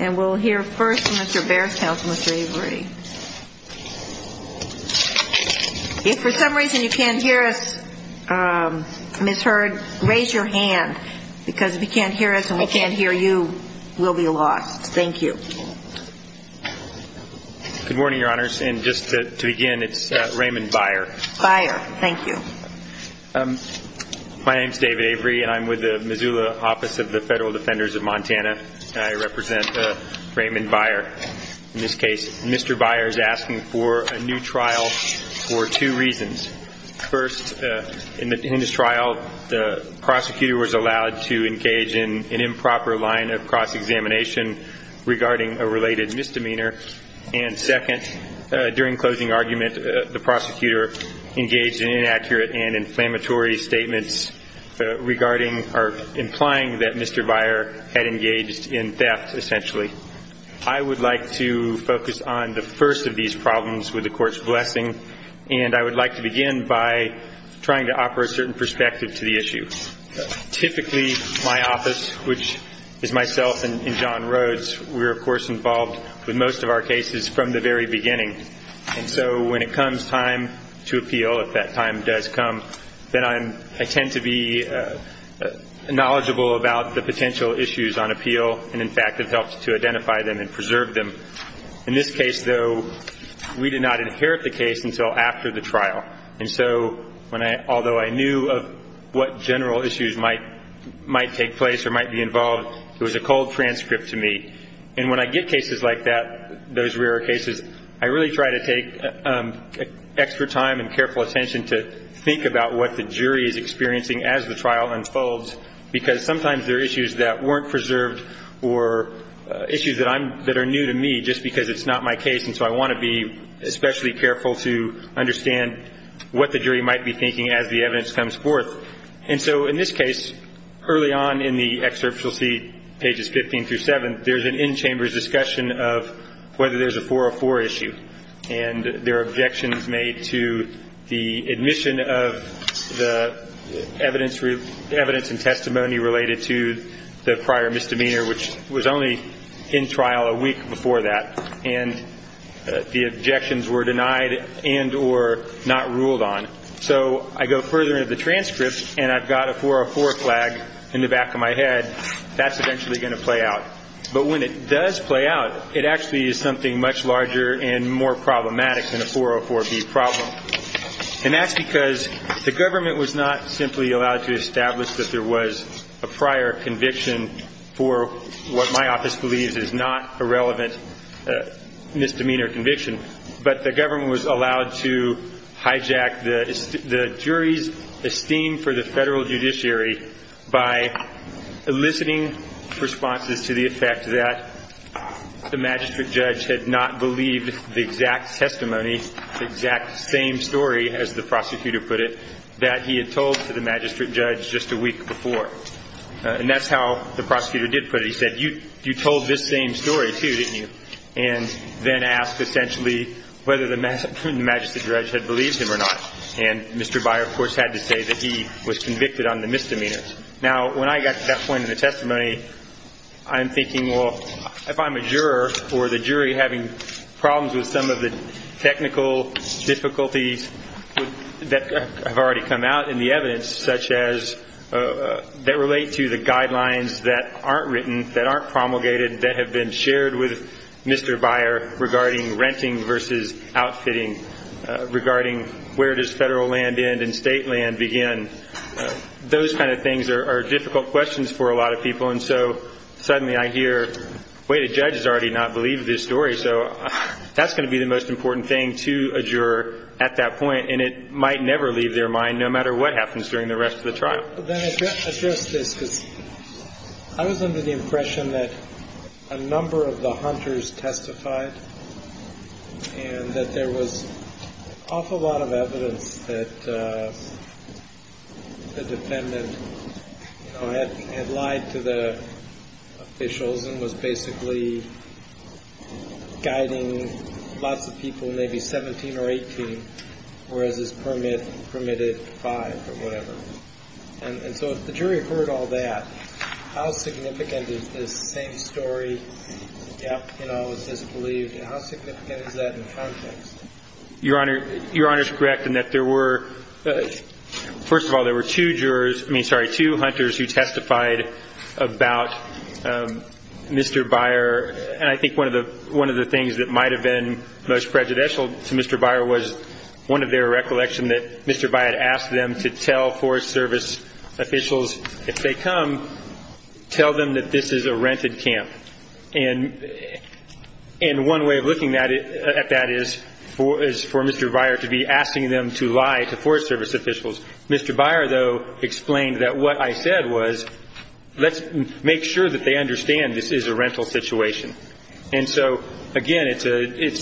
and we'll hear first Mr. Baier's counsel, Mr. Avery. If for some reason you can't hear us, Ms. Hurd, raise your hand because if you can't hear us and we can't hear you, we'll be lost. Thank you. Good morning, Your Honors, and just to begin, it's Raymond Baier. Baier, thank you. My name is David Avery and I'm with the Missoula Office of the Federal Defenders of Montana. I represent Raymond Baier. In this case, Mr. Baier is asking for a new trial for two reasons. First, in this trial, the prosecutor was allowed to engage in an improper line of cross-examination regarding a related misdemeanor. And second, during closing argument, the prosecutor engaged in inaccurate and inflammatory statements regarding or implying that Mr. Baier had engaged in theft, essentially. I would like to focus on the first of these problems with the court's blessing, and I would like to begin by trying to offer a certain perspective to the issue. Typically, my office, which is myself and John Rhodes, we're, of course, involved with most of our cases from the very beginning. And so when it comes time to appeal, if that time does come, then I tend to be knowledgeable about the potential issues on appeal. And in fact, it helps to identify them and preserve them. In this case, though, we did not inherit the case until after the trial. And so although I knew of what general issues might take place or might be involved, it was a cold transcript to me. And when I get cases like that, those rare cases, I really try to take extra time and careful attention to think about what the jury is experiencing as the trial unfolds, because sometimes they're issues that weren't preserved or issues that are new to me just because it's not my case. And so I want to be especially careful to understand what the jury might be thinking as the evidence comes forth. And so in this case, early on in the excerpt you'll see, pages 15 through 7, there's an in-chambers discussion of whether there's a 404 issue. And there are objections made to the admission of the evidence and testimony related to the prior misdemeanor, which was only in trial a week before that. And the objections were denied and or not ruled on. So I go further into the transcript, and I've got a 404 flag in the back of my head. That's eventually going to play out. But when it does play out, it actually is something much larger and more problematic than a 404B problem. And that's because the government was not simply allowed to establish that there was a prior conviction for what my office believes is not a relevant misdemeanor conviction, but the government was allowed to hijack the jury's esteem for the federal judiciary by eliciting responses to the effect that the magistrate judge had not believed the exact testimony, the exact same story, as the prosecutor put it, that he had told to the magistrate judge just a week before. And that's how the prosecutor did put it. He said, you told this same story, too, didn't you, and then asked essentially whether the magistrate judge had believed him or not. And Mr. Byer, of course, had to say that he was convicted on the misdemeanor. Now, when I got to that point in the testimony, I'm thinking, well, if I'm a juror or the jury having problems with some of the technical difficulties that have already come out in the evidence, such as that relate to the guidelines that aren't written, that aren't promulgated, that have been shared with Mr. Byer regarding renting versus outfitting, regarding where does federal land end and state land begin, those kind of things are difficult questions for a lot of people. And so suddenly I hear, wait, a judge has already not believed this story. So that's going to be the most important thing to a juror at that point, and it might never leave their mind no matter what happens during the rest of the trial. Then address this, because I was under the impression that a number of the hunters testified and that there was an awful lot of evidence that the defendant had lied to the officials and was basically guiding lots of people, maybe 17 or 18, whereas his permit permitted five or whatever. And so if the jury heard all that, how significant is this same story? You know, is this believed? How significant is that in context? Your Honor, your Honor is correct in that there were, first of all, there were two jurors, I mean, sorry, there were two hunters who testified about Mr. Byer, and I think one of the things that might have been most prejudicial to Mr. Byer was one of their recollection that Mr. Byer had asked them to tell Forest Service officials if they come, tell them that this is a rented camp. And one way of looking at that is for Mr. Byer to be asking them to lie to Forest Service officials. Mr. Byer, though, explained that what I said was let's make sure that they understand this is a rental situation. And so, again, it's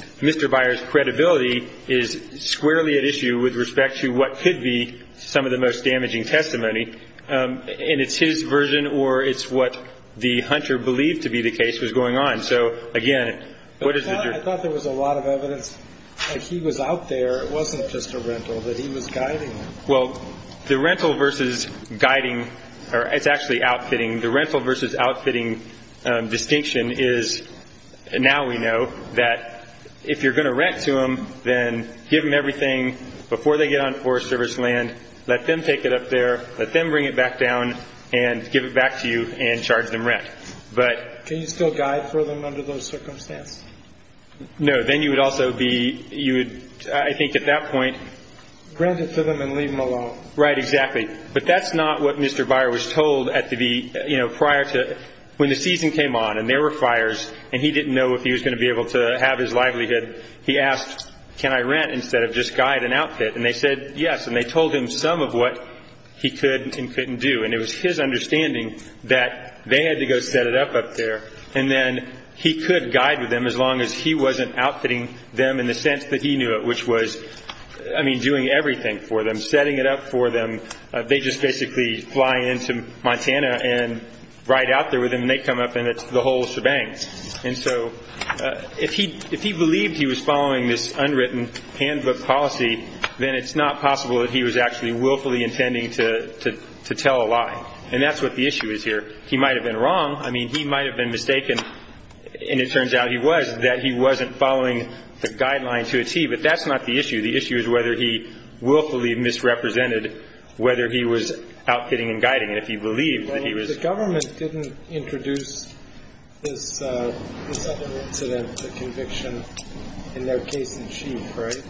Mr. Byer's credibility is squarely at issue with respect to what could be some of the most damaging testimony, and it's his version or it's what the hunter believed to be the case was going on. So, again, what is the jury? I thought there was a lot of evidence that he was out there. It wasn't just a rental, that he was guiding them. Well, the rental versus guiding, or it's actually outfitting. The rental versus outfitting distinction is now we know that if you're going to rent to them, then give them everything before they get on Forest Service land, let them take it up there, let them bring it back down, and give it back to you and charge them rent. Can you still guide for them under those circumstances? No. Then you would also be, you would, I think at that point. Rent it to them and leave them alone. Right, exactly. But that's not what Mr. Byer was told at the, you know, prior to. When the season came on and there were fires and he didn't know if he was going to be able to have his livelihood, he asked, can I rent instead of just guide and outfit? And they said yes, and they told him some of what he could and couldn't do. And it was his understanding that they had to go set it up up there, and then he could guide with them as long as he wasn't outfitting them in the sense that he knew it, which was, I mean, doing everything for them, setting it up for them. They just basically fly into Montana and ride out there with them, and they come up and it's the whole shebang. And so if he believed he was following this unwritten handbook policy, then it's not possible that he was actually willfully intending to tell a lie. And that's what the issue is here. He might have been wrong. I mean, he might have been mistaken, and it turns out he was, that he wasn't following the guidelines to achieve. But that's not the issue. The issue is whether he willfully misrepresented whether he was outfitting and guiding. And if he believed that he was. The government didn't introduce this other incident, the conviction, in their case in chief, right?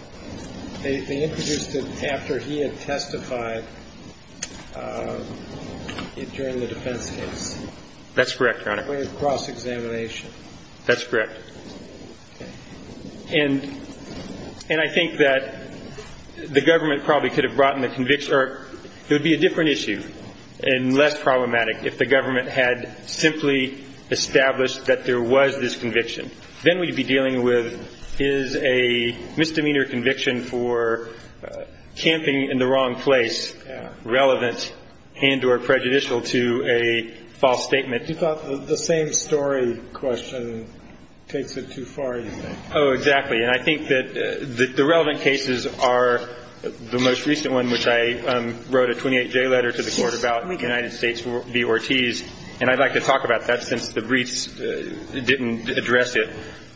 They introduced it after he had testified during the defense case. That's correct, Your Honor. It was a cross-examination. That's correct. And I think that the government probably could have brought in the conviction or it would be a different issue and less problematic if the government had simply established that there was this conviction. Then we'd be dealing with is a misdemeanor conviction for camping in the wrong place relevant and or prejudicial to a false statement. You thought the same story question takes it too far, you think? Oh, exactly. And I think that the relevant cases are the most recent one, which I wrote a 28-J letter to the Court about, United States v. Ortiz. And I'd like to talk about that since the briefs didn't address it.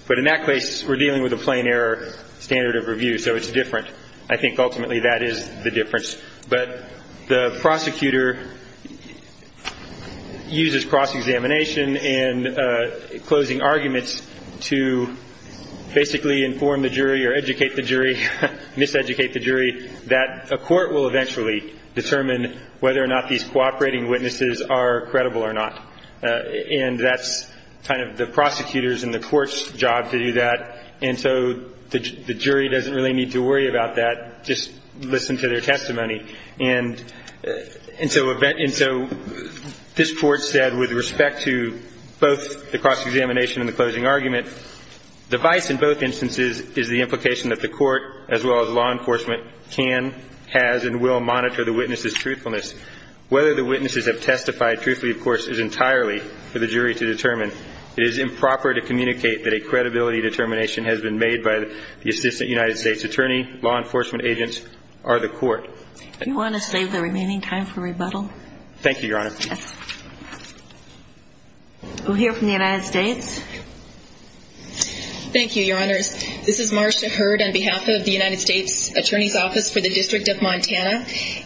But in that case, we're dealing with a plain error standard of review, so it's different. I think ultimately that is the difference. But the prosecutor uses cross-examination and closing arguments to basically inform the jury or educate the jury, miseducate the jury, that a court will eventually determine whether or not these cooperating witnesses are credible or not. And that's kind of the prosecutor's and the court's job to do that. And so the jury doesn't really need to worry about that. Just listen to their testimony. And so this Court said with respect to both the cross-examination and the closing argument, the vice in both instances is the implication that the court as well as law enforcement can, has, and will monitor the witnesses' truthfulness. Whether the witnesses have testified truthfully, of course, is entirely for the jury to determine. It is improper to communicate that a credibility determination has been made by the Assistant United States Attorney, law enforcement agents, or the court. Do you want to save the remaining time for rebuttal? Thank you, Your Honor. Yes. We'll hear from the United States. Thank you, Your Honors. This is Marcia Hurd on behalf of the United States Attorney's Office for the District of Montana.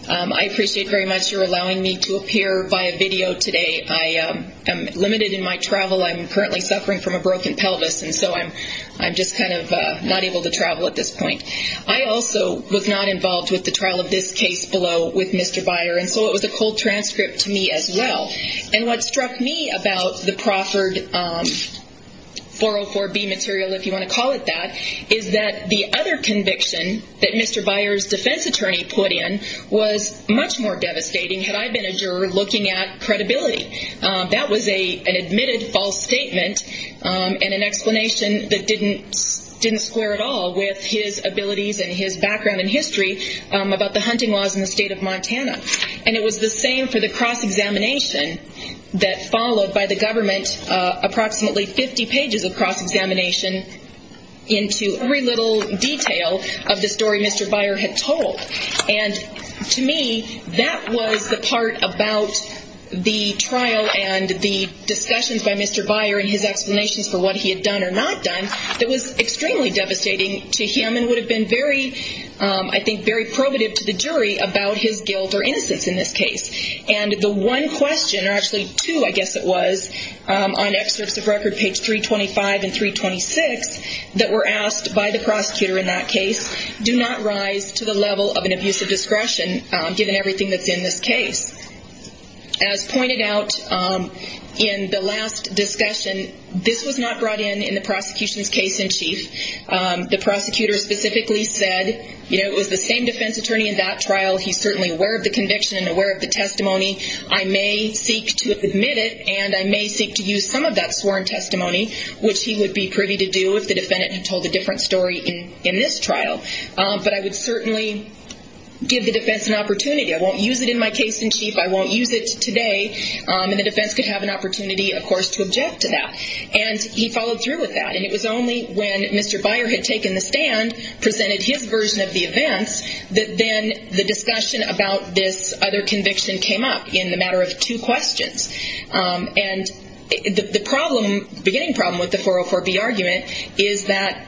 I appreciate very much your allowing me to appear via video today. I am limited in my travel. I'm currently suffering from a broken pelvis, and so I'm just kind of not able to travel at this point. I also was not involved with the trial of this case below with Mr. Byer, and so it was a cold transcript to me as well. And what struck me about the Crawford 404B material, if you want to call it that, is that the other conviction that Mr. Byer's defense attorney put in was much more devastating had I been a juror looking at credibility. That was an admitted false statement and an explanation that didn't square at all with his abilities and his background in history about the hunting laws in the state of Montana. And it was the same for the cross-examination that followed by the government, approximately 50 pages of cross-examination into every little detail of the story Mr. Byer had told. And to me, that was the part about the trial and the discussions by Mr. Byer and his explanations for what he had done or not done that was extremely devastating to him and would have been very, I think, very probative to the jury about his guilt or innocence in this case. And the one question, or actually two, I guess it was, on excerpts of record, page 325 and 326, that were asked by the prosecutor in that case, do not rise to the level of an abuse of discretion given everything that's in this case. As pointed out in the last discussion, this was not brought in in the prosecution's case in chief. The prosecutor specifically said, you know, it was the same defense attorney in that trial. He's certainly aware of the conviction and aware of the testimony. I may seek to admit it, and I may seek to use some of that sworn testimony, which he would be privy to do if the defendant had told a different story in this trial. But I would certainly give the defense an opportunity. I won't use it in my case in chief. I won't use it today. And the defense could have an opportunity, of course, to object to that. And he followed through with that. And it was only when Mr. Byer had taken the stand, presented his version of the events, that then the discussion about this other conviction came up in the matter of two questions. And the problem, the beginning problem with the 404B argument is that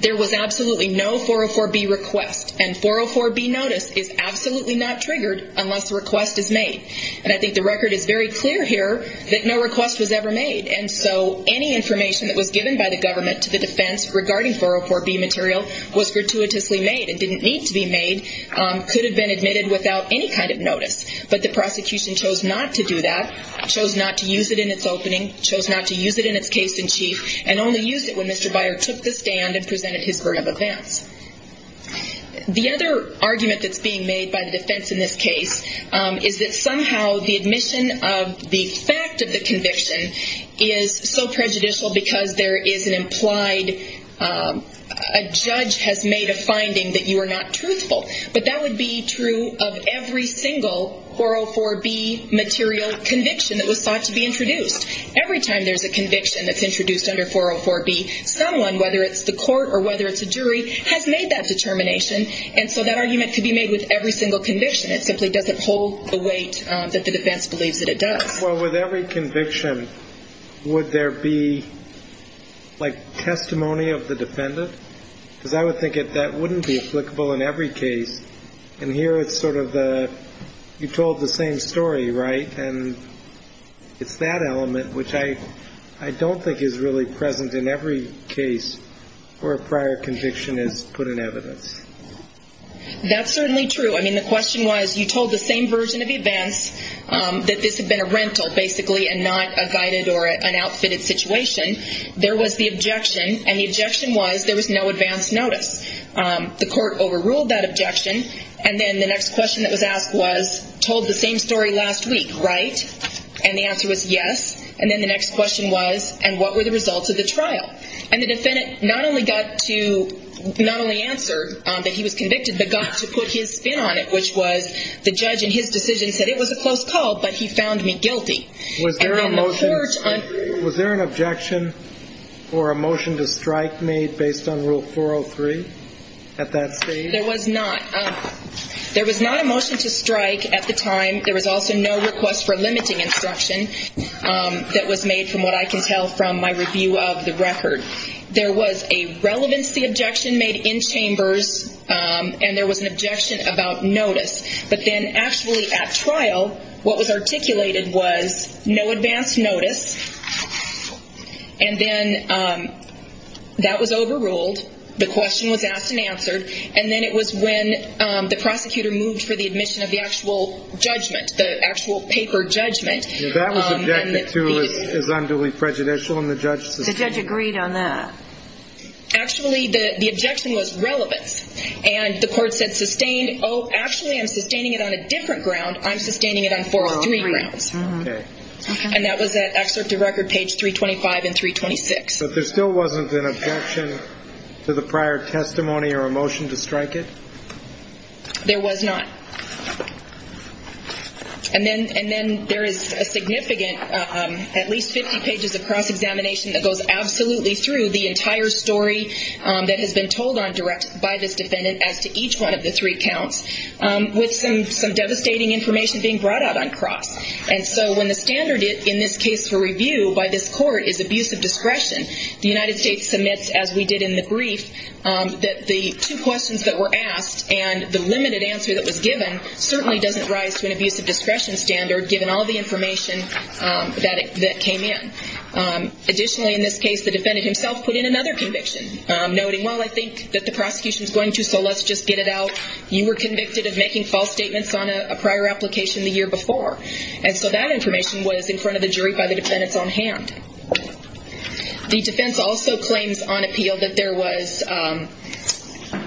there was absolutely no 404B request. And 404B notice is absolutely not triggered unless a request is made. And I think the record is very clear here that no request was ever made. And so any information that was given by the government to the defense regarding 404B material was gratuitously made and didn't need to be made, could have been admitted without any kind of notice. But the prosecution chose not to do that, chose not to use it in its opening, chose not to use it in its case in chief, and only used it when Mr. Byer took the stand and presented his version of events. The other argument that's being made by the defense in this case is that somehow the admission of the fact of the conviction is so prejudicial because there is an implied, a judge has made a finding that you are not truthful. But that would be true of every single 404B material conviction that was thought to be introduced. Every time there's a conviction that's introduced under 404B, someone, whether it's the court or whether it's a jury, has made that determination. And so that argument could be made with every single conviction. It simply doesn't hold the weight that the defense believes that it does. Well, with every conviction, would there be, like, testimony of the defendant? Because I would think that that wouldn't be applicable in every case. And here it's sort of the you told the same story, right? And it's that element which I don't think is really present in every case where a prior conviction is put in evidence. That's certainly true. I mean, the question was you told the same version of events, that this had been a rental, basically, and not a guided or an outfitted situation. There was the objection, and the objection was there was no advance notice. The court overruled that objection. And then the next question that was asked was told the same story last week, right? And the answer was yes. And then the next question was, and what were the results of the trial? And the defendant not only got to not only answer that he was convicted, but got to put his spin on it, which was the judge in his decision said it was a close call, but he found me guilty. Was there an objection or a motion to strike made based on Rule 403 at that stage? There was not. There was not a motion to strike at the time. There was also no request for limiting instruction that was made from what I can tell from my review of the record. There was a relevancy objection made in chambers, and there was an objection about notice. But then actually at trial, what was articulated was no advance notice. And then that was overruled. The question was asked and answered. And then it was when the prosecutor moved for the admission of the actual judgment, the actual paper judgment. That was objected to as unduly prejudicial, and the judge sustained. The judge agreed on that. Actually, the objection was relevance. And the court said sustained. Oh, actually, I'm sustaining it on a different ground. I'm sustaining it on 403 grounds. And that was at Excerpt of Record, page 325 and 326. But there still wasn't an objection to the prior testimony or a motion to strike it? There was not. And then there is a significant, at least 50 pages of cross-examination that goes absolutely through the entire story that has been told on direct by this defendant as to each one of the three counts, with some devastating information being brought out on cross. And so when the standard in this case for review by this court is abuse of discretion, the United States submits, as we did in the brief, that the two questions that were asked and the limited answer that was given certainly doesn't rise to an abuse of discretion standard, given all the information that came in. Additionally, in this case, the defendant himself put in another conviction, noting, well, I think that the prosecution is going to, so let's just get it out. You were convicted of making false statements on a prior application the year before. And so that information was in front of the jury by the defendants on hand. The defense also claims on appeal that there was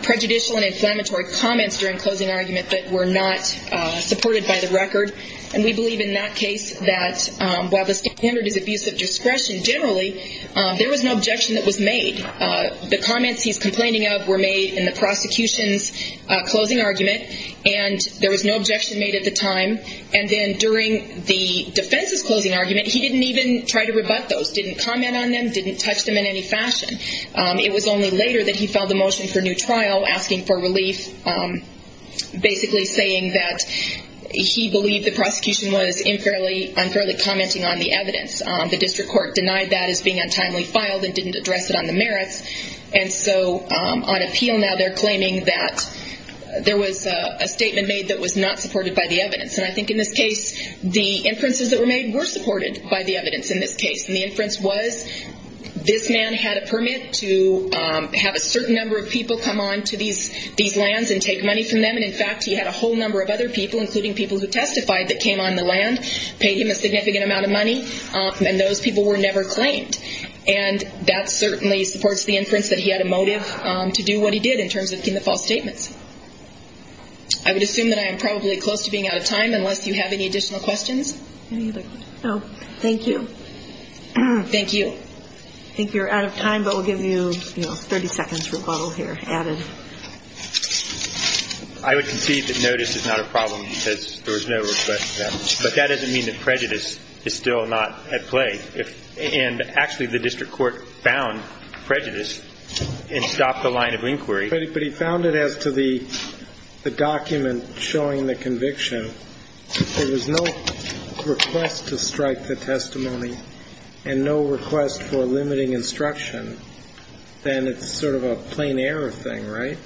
prejudicial and inflammatory comments during closing argument that were not supported by the record. And we believe in that case that while the standard is abuse of discretion, generally there was no objection that was made. The comments he's complaining of were made in the prosecution's closing argument, and there was no objection made at the time. And then during the defense's closing argument, he didn't even try to rebut those, didn't comment on them, didn't touch them in any fashion. It was only later that he filed a motion for new trial asking for relief, basically saying that he believed the prosecution was unfairly commenting on the evidence. The district court denied that as being untimely filed and didn't address it on the merits. And so on appeal now they're claiming that there was a statement made that was not supported by the evidence. And I think in this case the inferences that were made were supported by the evidence in this case. And the inference was this man had a permit to have a certain number of people come on to these lands and take money from them. And, in fact, he had a whole number of other people, including people who testified, that came on the land, paid him a significant amount of money. And those people were never claimed. And that certainly supports the inference that he had a motive to do what he did in terms of the false statements. I would assume that I am probably close to being out of time unless you have any additional questions. Thank you. Thank you. Okay. I think you're out of time, but we'll give you, you know, 30 seconds rebuttal here added. I would concede that notice is not a problem because there was no request for that. But that doesn't mean that prejudice is still not at play. And, actually, the district court found prejudice and stopped the line of inquiry. But he found it as to the document showing the conviction. Thank you. If there was no request to strike the testimony and no request for limiting instruction, then it's sort of a plain error thing, right?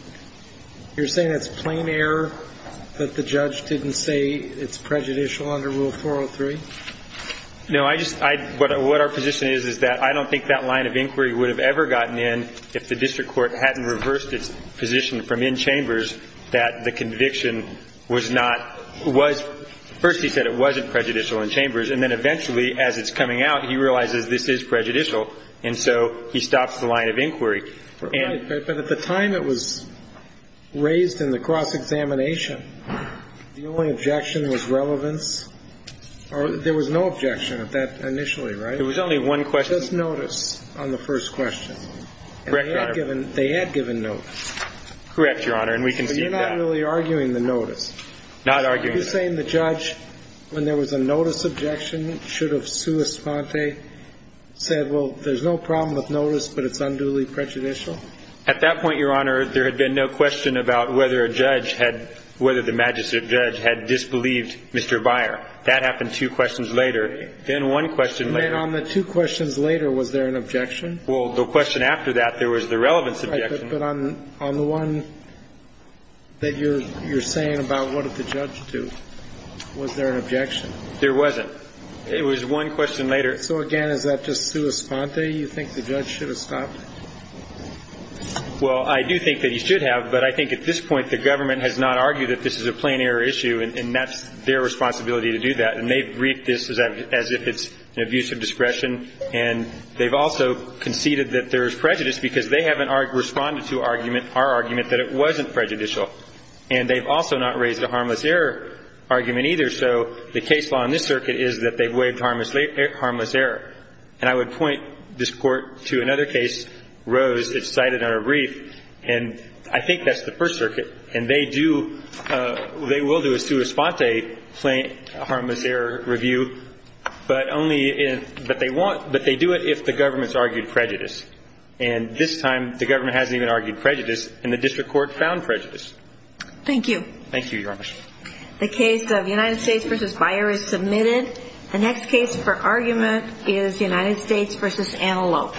You're saying it's plain error that the judge didn't say it's prejudicial under Rule 403? No. I just — what our position is, is that I don't think that line of inquiry would have ever gotten in if the district court hadn't reversed its position from in chambers that the conviction was not — was — first he said it wasn't prejudicial in chambers, and then eventually, as it's coming out, he realizes this is prejudicial, and so he stops the line of inquiry. Right. But at the time it was raised in the cross-examination, the only objection was relevance? Or there was no objection at that initially, right? There was only one question. But there was notice on the first question. Correct, Your Honor. And they had given notice. Correct, Your Honor, and we can see that. But you're not really arguing the notice. Not arguing the notice. Are you saying the judge, when there was a notice objection, should have sua sponte, said, well, there's no problem with notice, but it's unduly prejudicial? At that point, Your Honor, there had been no question about whether a judge had — whether the magistrate judge had disbelieved Mr. Beyer. That happened two questions later. Then one question later. And then on the two questions later, was there an objection? Well, the question after that, there was the relevance objection. Right. But on the one that you're saying about what did the judge do, was there an objection? There wasn't. It was one question later. So, again, is that just sua sponte? You think the judge should have stopped? Well, I do think that he should have, but I think at this point the government has not argued that this is a plain error issue, and that's their responsibility to do that. And they've briefed this as if it's an abuse of discretion, and they've also conceded that there's prejudice because they haven't responded to our argument that it wasn't prejudicial. And they've also not raised a harmless error argument either. So the case law in this circuit is that they've waived harmless error. And I would point this Court to another case, Rose. It's cited on a brief, and I think that's the First Circuit. And they will do a sua sponte harmless error review, but they do it if the government has argued prejudice. And this time the government hasn't even argued prejudice, and the district court found prejudice. Thank you. Thank you, Your Honor. The case of United States v. Byer is submitted. The next case for argument is United States v. Antelope.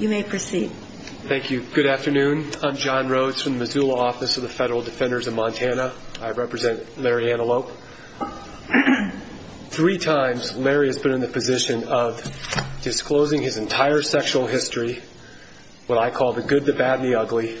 You may proceed. Thank you. Good afternoon. I'm John Rhodes from the Missoula Office of the Federal Defenders of Montana. I represent Larry Antelope. Three times, Larry has been in the position of disclosing his entire sexual history, and he has not been able to do that. What I call the good, the bad, and the ugly.